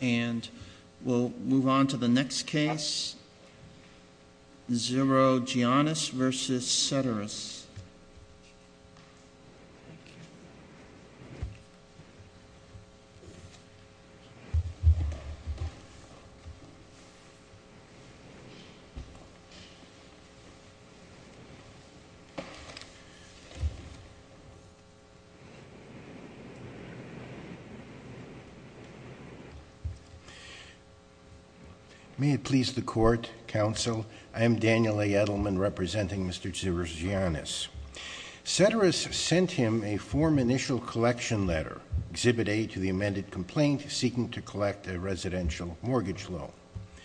And we'll move on to the next case, Zirogiannis v. Seterus. May it please the Court, Counsel, I am Daniel A. Edelman representing Mr. Zirogiannis. Seterus sent him a form initial collection letter, Exhibit A, to the amended complaint seeking to collect a residential mortgage loan. It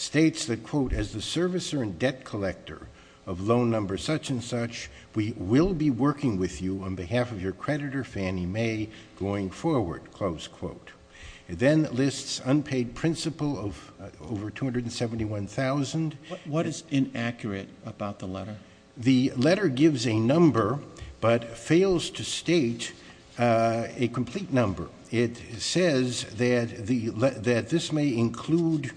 states that, quote, as the servicer and debt collector of loan number such and such, we will be working with you on behalf of your creditor, Fannie Mae, going forward, close quote. It then lists unpaid principal of over $271,000. What is inaccurate about the letter? The letter gives a number but fails to state a complete number. It says that this may include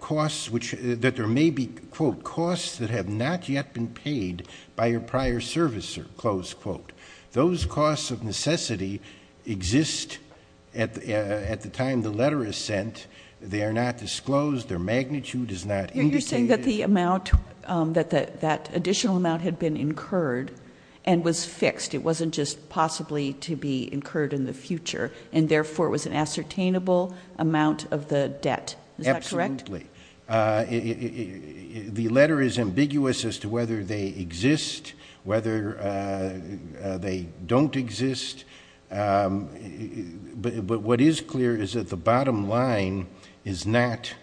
costs which, that there may be, quote, costs that have not yet been paid by your prior servicer, close quote. Those costs of necessity exist at the time the letter is sent. They are not disclosed. Their magnitude is not indicated. You're saying that the amount, that that additional amount had been incurred and was fixed. It wasn't just possibly to be incurred in the future. And, therefore, it was an ascertainable amount of the debt. Is that correct? Absolutely. The letter is ambiguous as to whether they exist, whether they don't exist. But what is clear is that the bottom line is not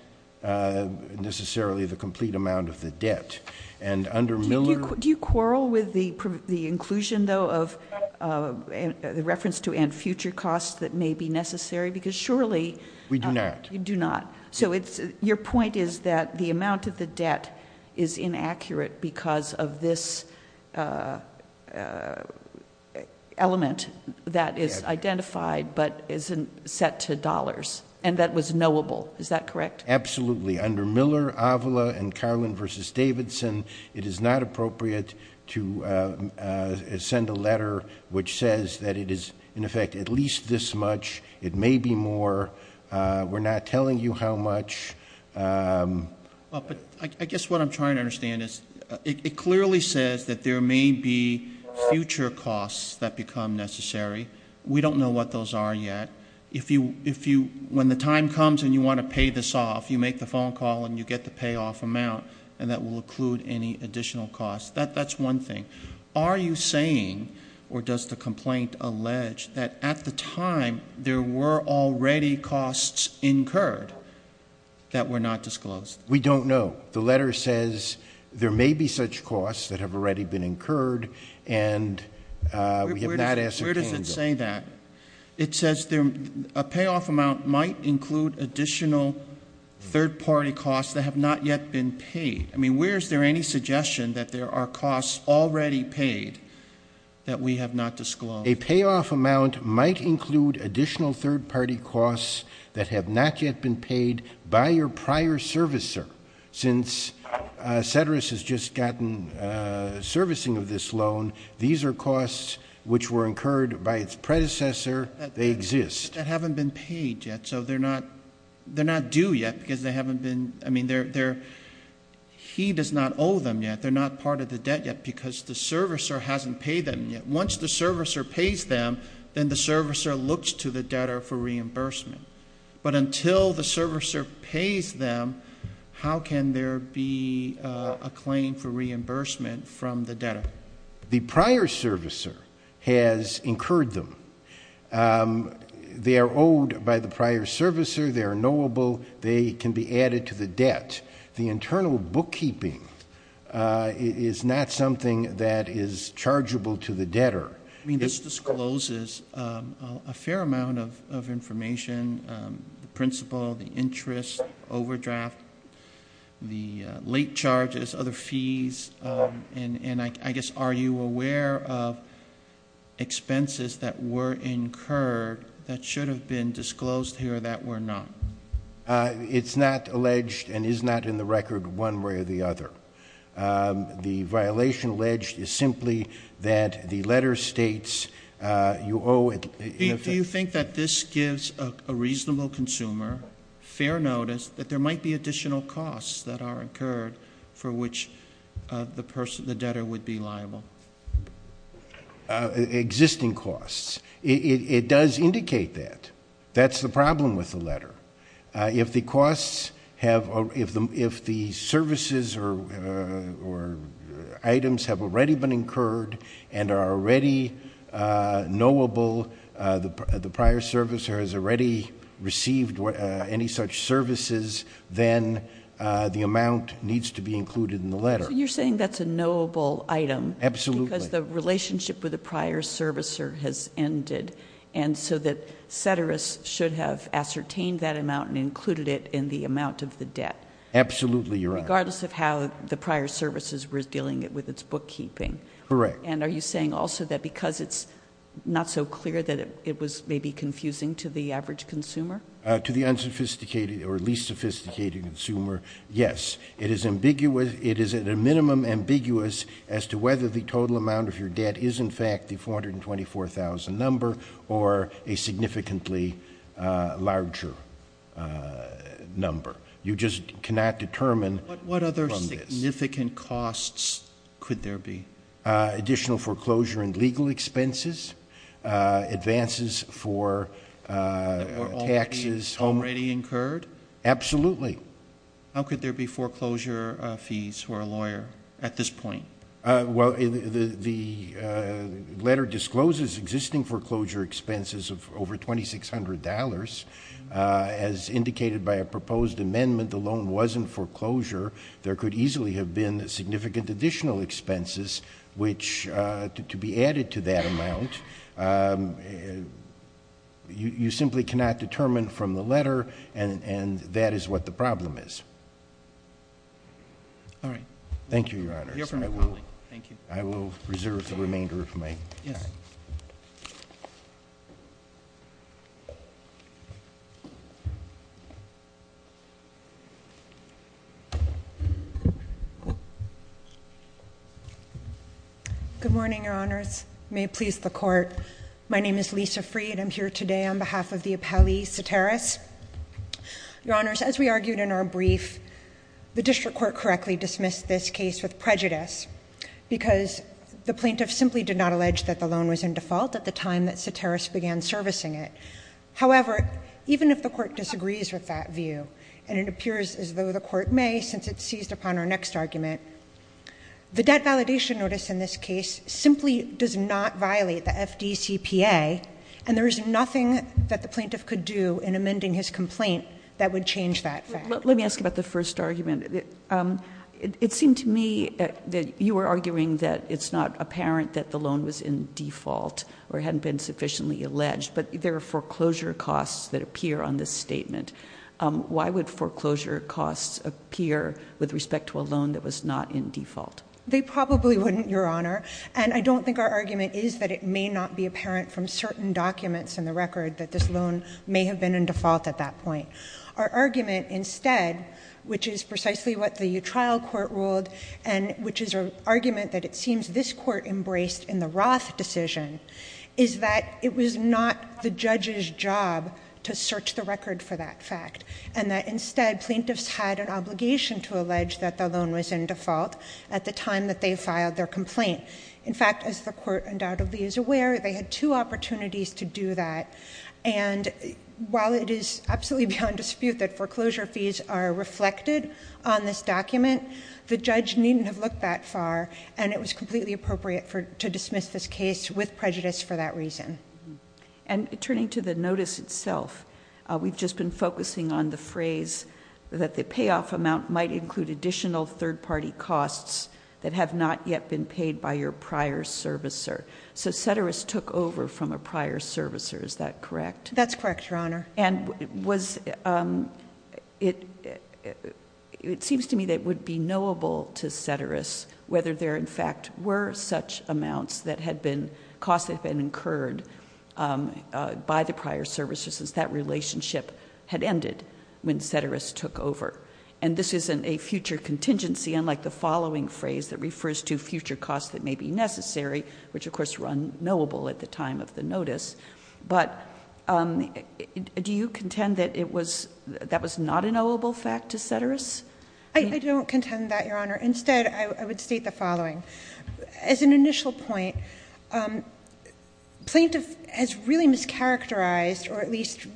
necessarily the complete amount of the debt. And under Miller... Do you quarrel with the inclusion, though, of the reference to and future costs that may be necessary? Because surely... We do not. You do not. So your point is that the amount of the debt is inaccurate because of this element that is identified but isn't set to dollars. And that was knowable. Is that correct? Absolutely. Under Miller, Avila, and Carlin v. Davidson, it is not appropriate to send a letter which says that it is, in effect, at least this much. It may be more. We're not telling you how much. But I guess what I'm trying to understand is it clearly says that there may be future costs that become necessary. We don't know what those are yet. When the time comes and you want to pay this off, you make the phone call and you get the payoff amount, and that will include any additional costs. That's one thing. Are you saying, or does the complaint allege, that at the time, there were already costs incurred that were not disclosed? We don't know. The letter says there may be such costs that have already been incurred, and we have not asked for a candle. Where does it say that? It says a payoff amount might include additional third-party costs that have not yet been paid. I mean, where is there any suggestion that there are costs already paid that we have not disclosed? A payoff amount might include additional third-party costs that have not yet been paid by your prior servicer. Since Cedras has just gotten servicing of this loan, these are costs which were incurred by its predecessor. They exist. That haven't been paid yet, so they're not due yet because they haven't been, I mean, he does not owe them yet. They're not part of the debt yet because the servicer hasn't paid them yet. Once the servicer pays them, then the servicer looks to the debtor for reimbursement. But until the servicer pays them, how can there be a claim for reimbursement from the debtor? The prior servicer has incurred them. They are owed by the prior servicer. They are knowable. They can be added to the debt. The internal bookkeeping is not something that is chargeable to the debtor. I mean, this discloses a fair amount of information, the principle, the interest, overdraft, the late charges, other fees, and I guess are you aware of expenses that were incurred that should have been disclosed here that were not? It's not alleged and is not in the record one way or the other. The violation alleged is simply that the letter states you owe. Do you think that this gives a reasonable consumer fair notice that there might be additional costs that are incurred for which the debtor would be liable? Existing costs. It does indicate that. That's the problem with the letter. If the costs have, if the services or items have already been incurred and are already knowable, the prior servicer has already received any such services, then the amount needs to be included in the letter. So you're saying that's a knowable item. Absolutely. Because the relationship with the prior servicer has ended and so that Ceteris should have ascertained that amount and included it in the amount of the debt. Absolutely, Your Honor. Regardless of how the prior services were dealing with its bookkeeping. Correct. And are you saying also that because it's not so clear that it was maybe confusing to the average consumer? To the unsophisticated or least sophisticated consumer, yes. It is at a minimum ambiguous as to whether the total amount of your debt is in fact the 424,000 number or a significantly larger number. You just cannot determine from this. What other significant costs could there be? Additional foreclosure and legal expenses, advances for taxes. That were already incurred? Absolutely. How could there be foreclosure fees for a lawyer at this point? Well, the letter discloses existing foreclosure expenses of over $2,600. As indicated by a proposed amendment, the loan wasn't foreclosure. There could easily have been significant additional expenses which to be added to that amount, you simply cannot determine from the letter and that is what the problem is. All right. Thank you, Your Honors. I will reserve the remainder of my time. Yes. Good morning, Your Honors. May it please the Court. My name is Lisa Freed. I'm here today on behalf of the appellee, Ceteris. Your Honors, as we argued in our brief, the District Court correctly dismissed this case with prejudice because the plaintiff simply did not allege that the loan was in default at the time that Ceteris began servicing it. However, even if the Court disagrees with that view and it appears as though the Court may since it seized upon our next argument, the debt validation notice in this case simply does not violate the FDCPA and there is nothing that the plaintiff could do in amending his complaint that would change that fact. Let me ask about the first argument. It seemed to me that you were arguing that it's not apparent that the loan was in default or hadn't been sufficiently alleged, but there are foreclosure costs that appear on this statement. Why would foreclosure costs appear with respect to a loan that was not in default? They probably wouldn't, Your Honor. And I don't think our argument is that it may not be apparent from certain documents in the record that this loan may have been in default at that point. Our argument instead, which is precisely what the trial court ruled and which is an argument that it seems this Court embraced in the Roth decision, is that it was not the judge's job to search the record for that fact and that instead plaintiffs had an obligation to allege that the loan was in default at the time that they filed their complaint. In fact, as the Court undoubtedly is aware, they had two opportunities to do that and while it is absolutely beyond dispute that foreclosure fees are reflected on this document, the judge needn't have looked that far and it was completely appropriate to dismiss this case with prejudice for that reason. And turning to the notice itself, we've just been focusing on the phrase that the payoff amount might include additional third-party costs that have not yet been paid by your prior servicer. So Ceteris took over from a prior servicer, is that correct? That's correct, Your Honor. And it seems to me that it would be knowable to Ceteris whether there in fact were such amounts that had been incurred by the prior servicer since that relationship had ended when Ceteris took over. And this isn't a future contingency, unlike the following phrase that refers to future costs that may be necessary, which of course were unknowable at the time of the notice. But do you contend that that was not a knowable fact to Ceteris? I don't contend that, Your Honor. Instead, I would state the following. As an initial point, plaintiff has really mischaracterized or at least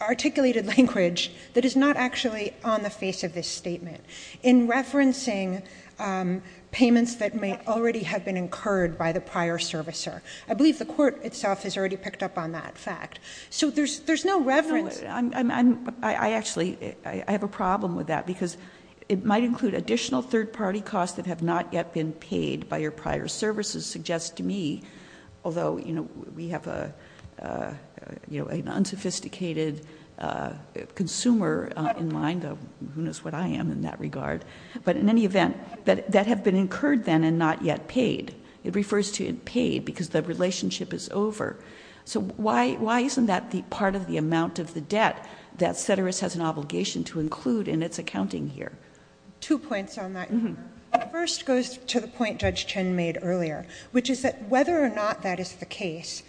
articulated language that is not actually on the face of this statement in referencing payments that may already have been incurred by the prior servicer. I believe the court itself has already picked up on that fact. So there's no reverence. I actually have a problem with that, because it might include additional third-party costs that have not yet been paid by your prior servicer suggests to me, although we have an unsophisticated consumer in mind, who knows what I am in that regard, but in any event, that have been incurred then and not yet paid. It refers to paid because the relationship is over. So why isn't that part of the amount of the debt that Ceteris has an obligation to include in its accounting here? Two points on that. First goes to the point Judge Chin made earlier, which is that whether or not that is the case,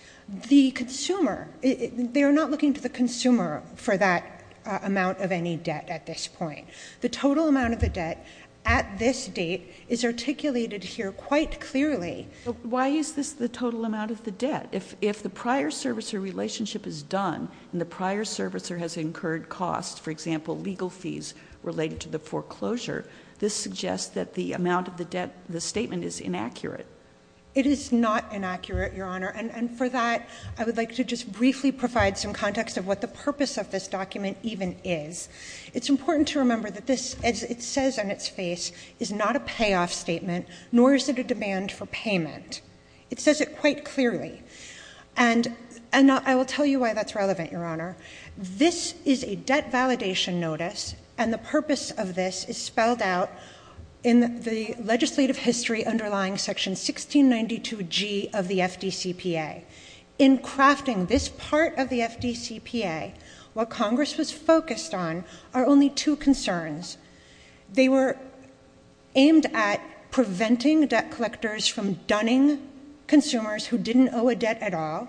the consumer, they are not looking to the consumer for that amount of any debt at this point. The total amount of the debt at this date is articulated here quite clearly. Why is this the total amount of the debt? If the prior servicer relationship is done and the prior servicer has incurred costs, for example, legal fees related to the foreclosure, this suggests that the amount of the debt in the statement is inaccurate. It is not inaccurate, Your Honor, and for that I would like to just briefly provide some context of what the purpose of this document even is. It's important to remember that this, as it says on its face, is not a payoff statement, nor is it a demand for payment. It says it quite clearly. And I will tell you why that's relevant, Your Honor. This is a debt validation notice, and the purpose of this is spelled out in the legislative history underlying Section 1692G of the FDCPA. In crafting this part of the FDCPA, what Congress was focused on are only two concerns. They were aimed at preventing debt collectors from dunning consumers who didn't owe a debt at all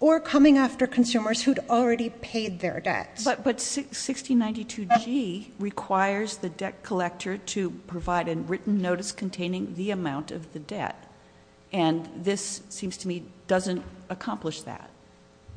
or coming after consumers who'd already paid their debts. But 1692G requires the debt collector to provide a written notice containing the amount of the debt, and this seems to me doesn't accomplish that.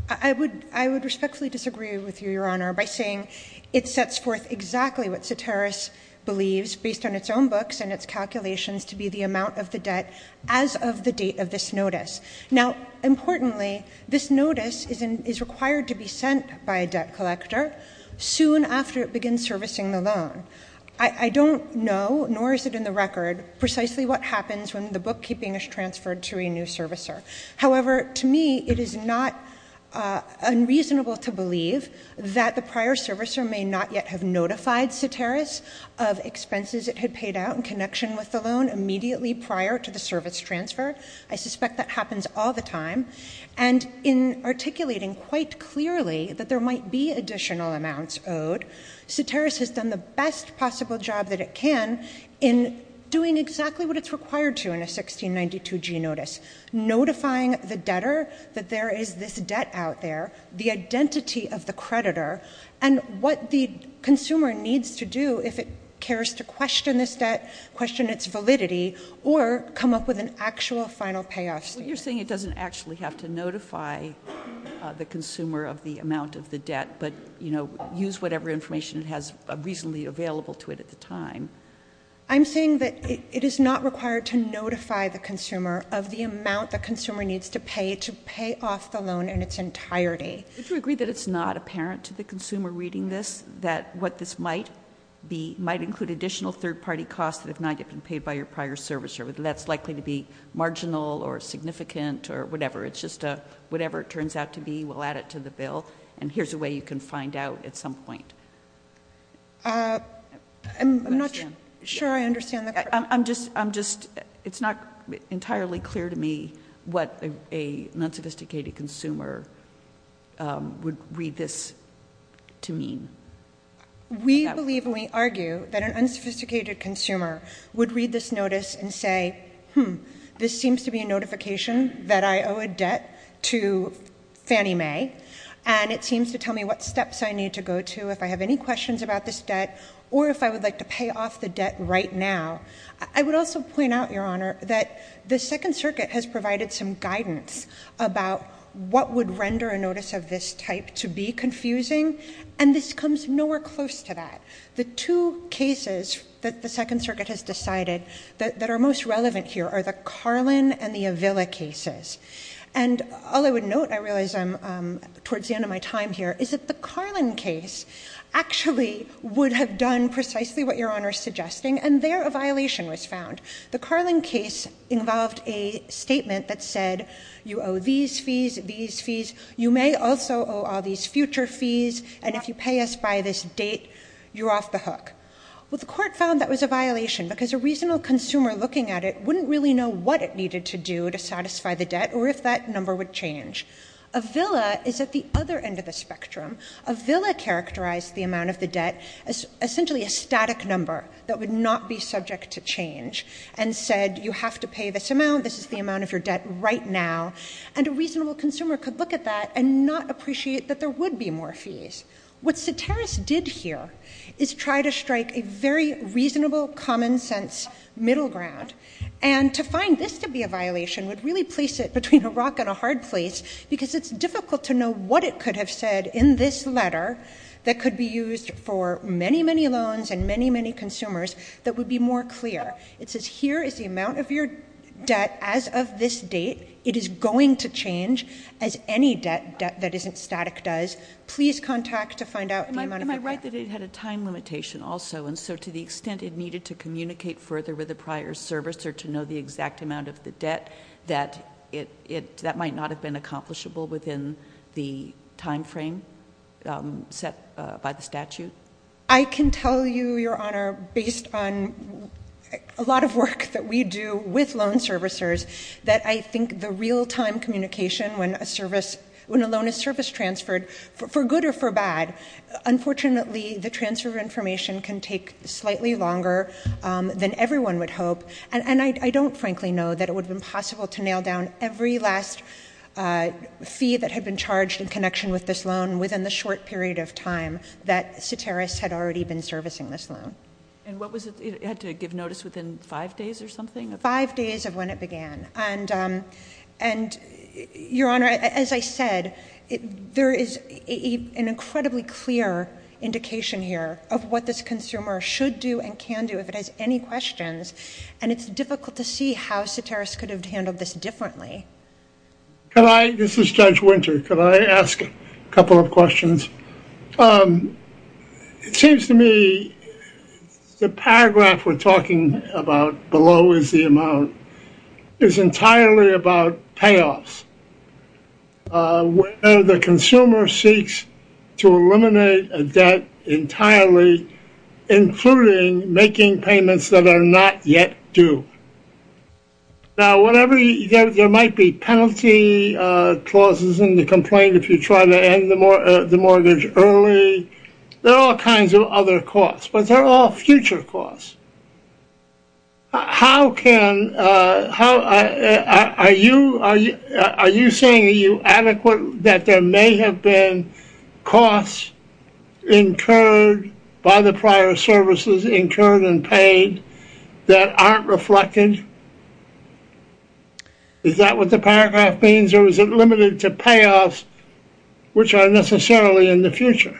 I would respectfully disagree with you, Your Honor, by saying it sets forth exactly what Seteris believes, based on its own books and its calculations, to be the amount of the debt as of the date of this notice. Now, importantly, this notice is required to be sent by a debt collector soon after it begins servicing the loan. I don't know, nor is it in the record, precisely what happens when the bookkeeping is transferred to a new servicer. However, to me, it is not unreasonable to believe that the prior servicer may not yet have notified Seteris of expenses it had paid out in connection with the loan immediately prior to the service transfer. I suspect that happens all the time. And in articulating quite clearly that there might be additional amounts owed, Seteris has done the best possible job that it can in doing exactly what it's required to in a 1692G notice, notifying the debtor that there is this debt out there, the identity of the creditor, and what the consumer needs to do if it cares to question this debt, question its validity, or come up with an actual final payoff. Well, you're saying it doesn't actually have to notify the consumer of the amount of the debt, but, you know, use whatever information it has reasonably available to it at the time. I'm saying that it is not required to notify the consumer of the amount the consumer needs to pay to pay off the loan in its entirety. Would you agree that it's not apparent to the consumer reading this that what this might be might include additional third-party costs that have not yet been paid by your prior servicer? That's likely to be marginal or significant or whatever. It's just whatever it turns out to be, we'll add it to the bill, and here's a way you can find out at some point. I'm not sure I understand the question. It's not entirely clear to me what an unsophisticated consumer would read this to mean. We believe and we argue that an unsophisticated consumer would read this notice and say, hmm, this seems to be a notification that I owe a debt to Fannie Mae, and it seems to tell me what steps I need to go to if I have any questions about this debt or if I would like to pay off the debt right now. I would also point out, Your Honor, that the Second Circuit has provided some guidance about what would render a notice of this type to be confusing, and this comes nowhere close to that. The two cases that the Second Circuit has decided that are most relevant here are the Carlin and the Avila cases, and all I would note, I realize I'm towards the end of my time here, is that the Carlin case actually would have done precisely what Your Honor is suggesting, and there a violation was found. The Carlin case involved a statement that said, you owe these fees, these fees, you may also owe all these future fees, and if you pay us by this date, you're off the hook. Well, the Court found that was a violation because a reasonable consumer looking at it wouldn't really know what it needed to do to satisfy the debt or if that number would change. Avila is at the other end of the spectrum. Avila characterized the amount of the debt as essentially a static number that would not be subject to change and said, you have to pay this amount, this is the amount of your debt right now, and a reasonable consumer could look at that and not appreciate that there would be more fees. What Ceteris did here is try to strike a very reasonable, common-sense middle ground, and to find this to be a violation would really place it between a rock and a hard place because it's difficult to know what it could have said in this letter that could be used for many, many loans and many, many consumers that would be more clear. It says, here is the amount of your debt as of this date. It is going to change, as any debt that isn't static does. Please contact to find out the amount of the debt. Am I right that it had a time limitation also, and so to the extent it needed to communicate further with a prior service or to know the exact amount of the debt, that that might not have been accomplishable within the time frame set by the statute? I can tell you, Your Honor, based on a lot of work that we do with loan servicers, that I think the real-time communication when a loan is service transferred, for good or for bad, unfortunately the transfer of information can take slightly longer than everyone would hope, and I don't frankly know that it would have been possible to nail down every last fee that had been charged in connection with this loan within the short period of time that Soteris had already been servicing this loan. And what was it? It had to give notice within five days or something? Five days of when it began. And, Your Honor, as I said, there is an incredibly clear indication here of what this consumer should do and can do if it has any questions, and it's difficult to see how Soteris could have handled this differently. This is Judge Winter. Could I ask a couple of questions? It seems to me the paragraph we're talking about, below is the amount, is entirely about payoffs, where the consumer seeks to eliminate a debt entirely, including making payments that are not yet due. Now, whatever, there might be penalty clauses in the complaint if you try to end the mortgage early. There are all kinds of other costs, but they're all future costs. How can, are you saying are you adequate that there may have been costs incurred by the prior services, incurred and paid, that aren't reflected? Is that what the paragraph means, or is it limited to payoffs, which are necessarily in the future?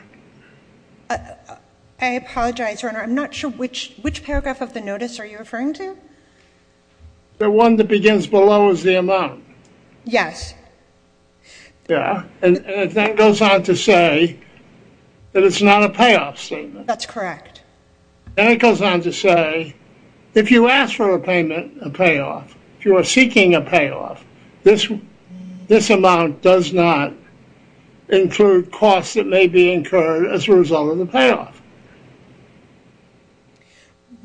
I apologize, Your Honor. I'm not sure which paragraph of the notice are you referring to. The one that begins below is the amount. Yes. Yeah. And it then goes on to say that it's not a payoff statement. That's correct. And it goes on to say, if you ask for a payment, a payoff, if you are seeking a payoff, this amount does not include costs that may be incurred as a result of the payoff.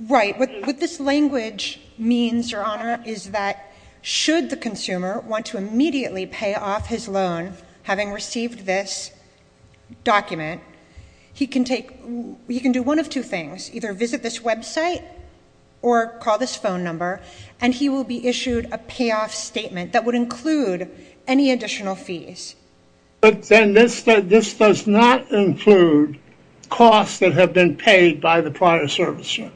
Right. What this language means, Your Honor, is that should the consumer want to immediately pay off his loan, having received this document, he can do one of two things. Either visit this website or call this phone number, and he will be issued a payoff statement that would include any additional fees. But then this does not include costs that have been paid by the prior servicer.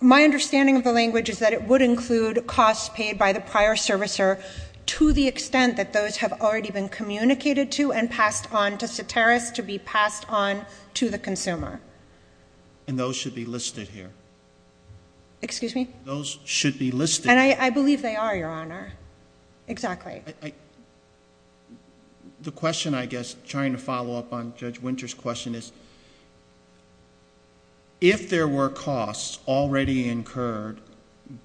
My understanding of the language is that it would include costs paid by the prior servicer to the extent that those have already been communicated to and passed on to Soteris to be passed on to the consumer. And those should be listed here. Excuse me? Those should be listed here. And I believe they are, Your Honor. Exactly. The question, I guess, trying to follow up on Judge Winter's question, is if there were costs already incurred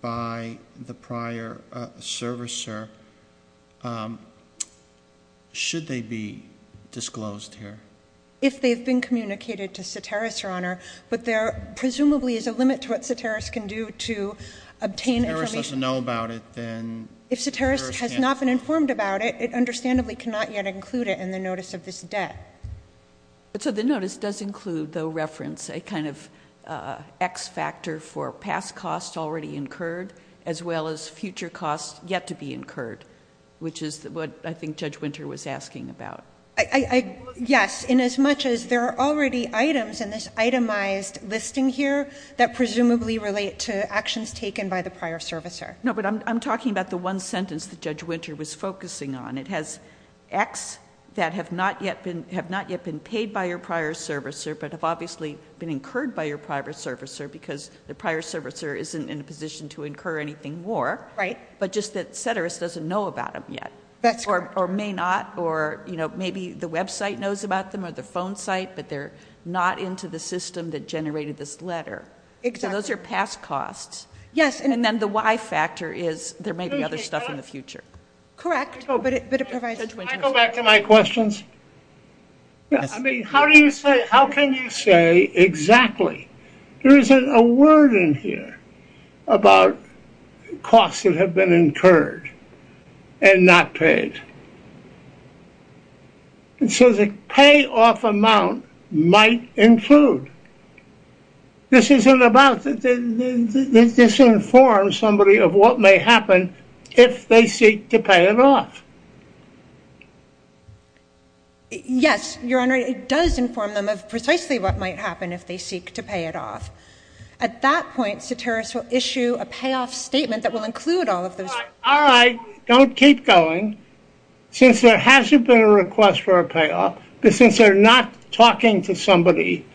by the prior servicer, should they be disclosed here? If they have been communicated to Soteris, Your Honor, but there presumably is a limit to what Soteris can do to obtain information. If Soteris doesn't know about it, then Soteris can't do it. If Soteris has not been informed about it, it understandably cannot yet include it in the notice of this debt. But so the notice does include, though, reference a kind of X factor for past costs already incurred, as well as future costs yet to be incurred, which is what I think Judge Winter was asking about. Yes, inasmuch as there are already items in this itemized listing here that presumably relate to actions taken by the prior servicer. No, but I'm talking about the one sentence that Judge Winter was focusing on. It has X that have not yet been paid by your prior servicer, but have obviously been incurred by your prior servicer, because the prior servicer isn't in a position to incur anything more. Right. But just that Soteris doesn't know about them yet. That's correct. Or may not. Or maybe the website knows about them or the phone site, but they're not into the system that generated this letter. Exactly. So those are past costs. Yes. And then the Y factor is there may be other stuff in the future. Correct. But it provides. Can I go back to my questions? Yes. I mean, how can you say exactly? There isn't a word in here about costs that have been incurred and not paid. It says a payoff amount might include. This isn't about, this informs somebody of what may happen if they seek to pay it off. Yes, Your Honor, it does inform them of precisely what might happen if they seek to pay it off. At that point, Soteris will issue a payoff statement that will include all of those. All right, don't keep going. Since there hasn't been a request for a payoff, but since they're not talking to somebody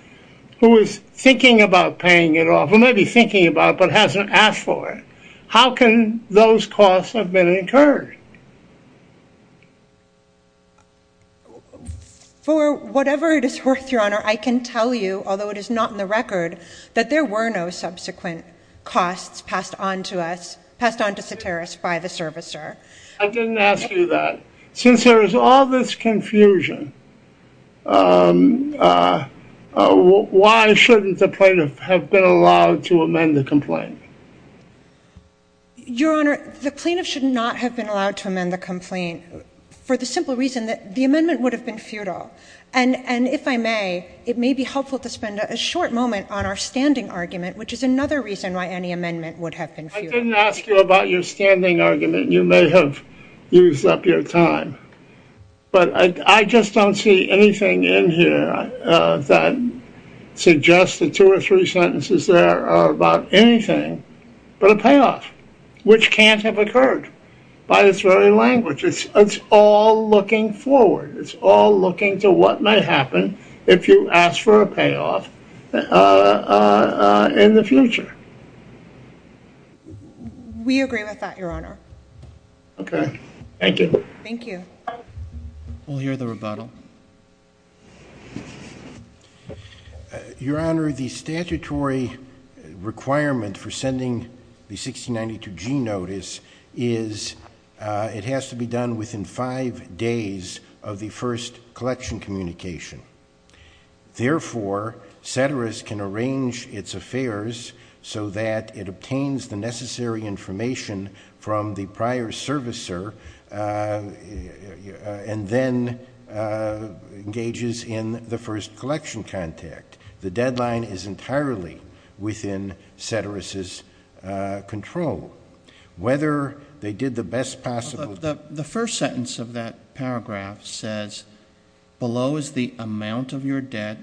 who is thinking about paying it off, who may be thinking about it but hasn't asked for it, how can those costs have been incurred? For whatever it is worth, Your Honor, I can tell you, although it is not in the record, that there were no subsequent costs passed on to us, passed on to Soteris by the servicer. I didn't ask you that. Since there is all this confusion, why shouldn't the plaintiff have been allowed to amend the complaint? Your Honor, the plaintiff should not have been allowed to amend the complaint for the simple reason that the amendment would have been futile. And if I may, it may be helpful to spend a short moment on our standing argument, which is another reason why any amendment would have been futile. I didn't ask you about your standing argument. You may have used up your time. But I just don't see anything in here that suggests that two or three sentences there are about anything but a payoff, which can't have occurred by this very language. It's all looking forward. It's all looking to what might happen if you ask for a payoff in the future. We agree with that, Your Honor. Okay. Thank you. Thank you. We'll hear the rebuttal. Your Honor, the statutory requirement for sending the 1692G notice is it has to be done within five days of the first collection communication. Therefore, Ceteris can arrange its affairs so that it obtains the necessary information from the prior servicer and then engages in the first collection contact. The deadline is entirely within Ceteris' control. The first sentence of that paragraph says, below is the amount of your debt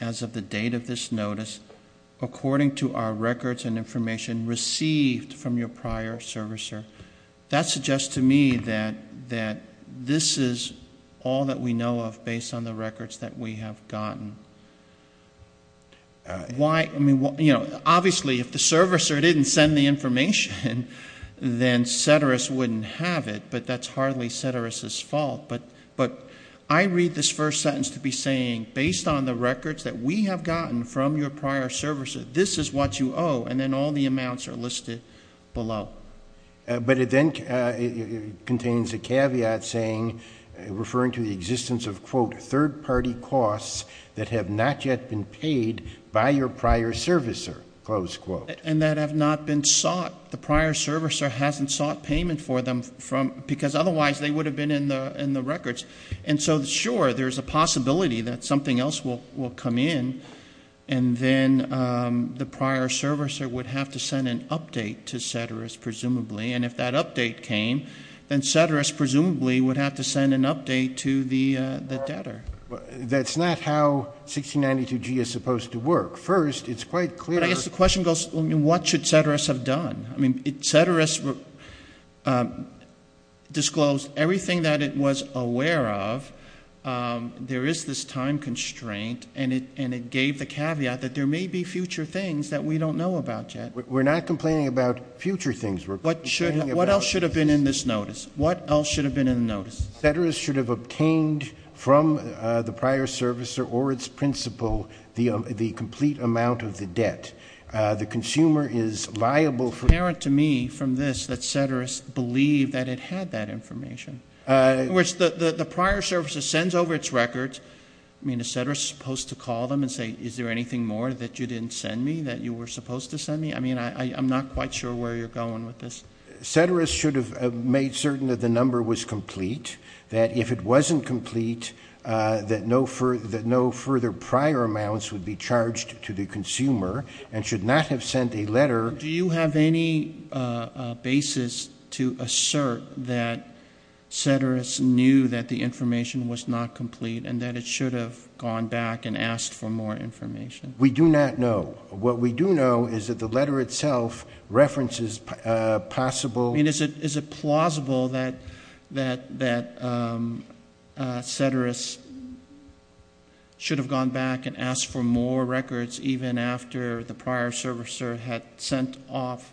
as of the date of this notice according to our records and information received from your prior servicer. That suggests to me that this is all that we know of based on the records that we have gotten. Obviously, if the servicer didn't send the information, then Ceteris wouldn't have it, but that's hardly Ceteris' fault. But I read this first sentence to be saying, based on the records that we have gotten from your prior servicer, this is what you owe, and then all the amounts are listed below. But it then contains a caveat saying, referring to the existence of, quote, third-party costs that have not yet been paid by your prior servicer, close quote. And that have not been sought. The prior servicer hasn't sought payment for them because otherwise they would have been in the records. And so, sure, there's a possibility that something else will come in, and then the prior servicer would have to send an update to Ceteris, presumably. And if that update came, then Ceteris presumably would have to send an update to the debtor. That's not how 1692G is supposed to work. First, it's quite clear. But I guess the question goes, what should Ceteris have done? I mean, Ceteris disclosed everything that it was aware of. There is this time constraint, and it gave the caveat that there may be future things that we don't know about yet. We're not complaining about future things. What else should have been in this notice? What else should have been in the notice? Ceteris should have obtained from the prior servicer or its principal the complete amount of the debt. The consumer is liable for that. It's apparent to me from this that Ceteris believed that it had that information. In other words, the prior servicer sends over its records. I mean, is Ceteris supposed to call them and say, is there anything more that you didn't send me, that you were supposed to send me? I mean, I'm not quite sure where you're going with this. Ceteris should have made certain that the number was complete, that if it wasn't complete, that no further prior amounts would be charged to the consumer and should not have sent a letter. Do you have any basis to assert that Ceteris knew that the information was not complete and that it should have gone back and asked for more information? We do not know. What we do know is that the letter itself references possible. I mean, is it plausible that Ceteris should have gone back and asked for more records even after the prior servicer had sent off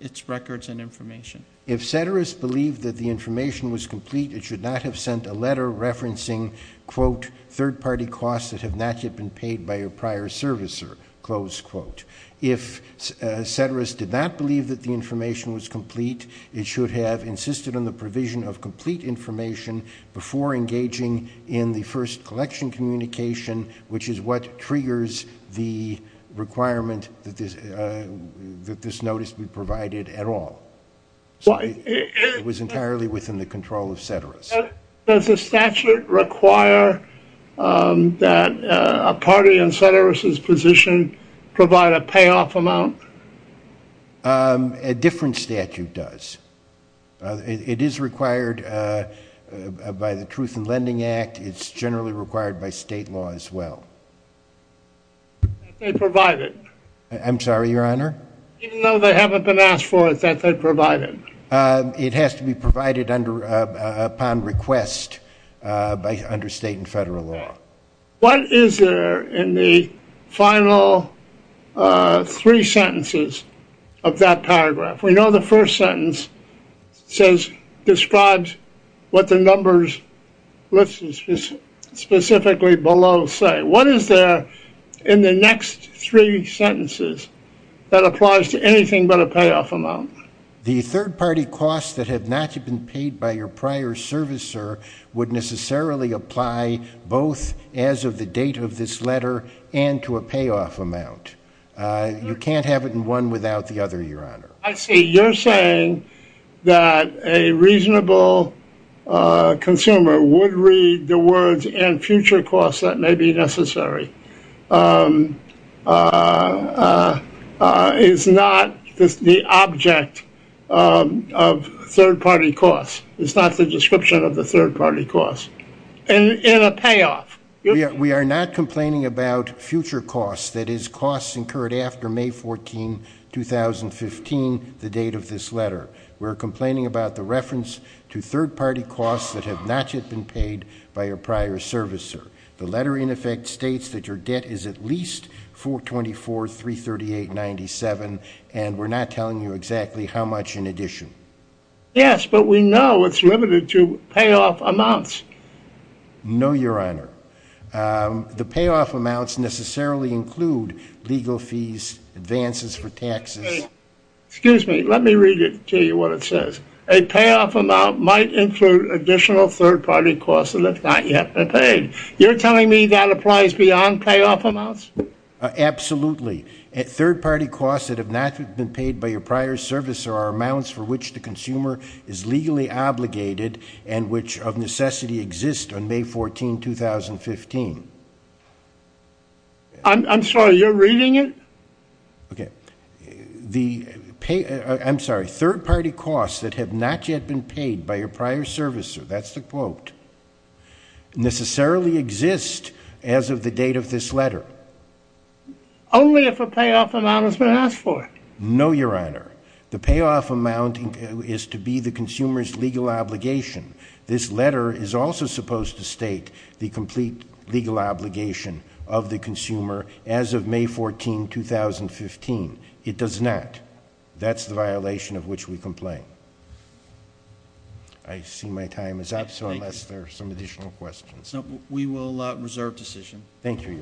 its records and information? If Ceteris believed that the information was complete, it should not have sent a letter referencing, quote, third-party costs that have not yet been paid by a prior servicer, close quote. If Ceteris did not believe that the information was complete, it should have insisted on the provision of complete information before engaging in the first collection communication, which is what triggers the requirement that this notice be provided at all. It was entirely within the control of Ceteris. Does the statute require that a party in Ceteris' position provide a payoff amount? A different statute does. It is required by the Truth in Lending Act. It's generally required by state law as well. I'm sorry, Your Honor? Even though they haven't been asked for it, that they provided? It has to be provided upon request under state and federal law. What is there in the final three sentences of that paragraph? We know the first sentence describes what the numbers listed specifically below say. What is there in the next three sentences that applies to anything but a payoff amount? The third-party costs that have not yet been paid by your prior servicer would necessarily apply both as of the date of this letter and to a payoff amount. You can't have it in one without the other, Your Honor. I see. You're saying that a reasonable consumer would read the words and future costs that may be necessary is not the object of third-party costs, is not the description of the third-party costs in a payoff. We are not complaining about future costs, that is, costs incurred after May 14, 2015, the date of this letter. We're complaining about the reference to third-party costs that have not yet been paid by your prior servicer. The letter, in effect, states that your debt is at least $424,338.97, and we're not telling you exactly how much in addition. Yes, but we know it's limited to payoff amounts. No, Your Honor. The payoff amounts necessarily include legal fees, advances for taxes. Excuse me. Let me read it to you, what it says. A payoff amount might include additional third-party costs that have not yet been paid. You're telling me that applies beyond payoff amounts? Absolutely. Third-party costs that have not yet been paid by your prior servicer are amounts for which the consumer is legally obligated and which of necessity exist on May 14, 2015. I'm sorry, you're reading it? Okay. I'm sorry, third-party costs that have not yet been paid by your prior servicer, that's the quote, necessarily exist as of the date of this letter. Only if a payoff amount has been asked for. No, Your Honor. The payoff amount is to be the consumer's legal obligation. This letter is also supposed to state the complete legal obligation of the consumer as of May 14, 2015. It does not. That's the violation of which we complain. I see my time is up, so unless there are some additional questions. We will reserve decision. Thank you, Your Honor.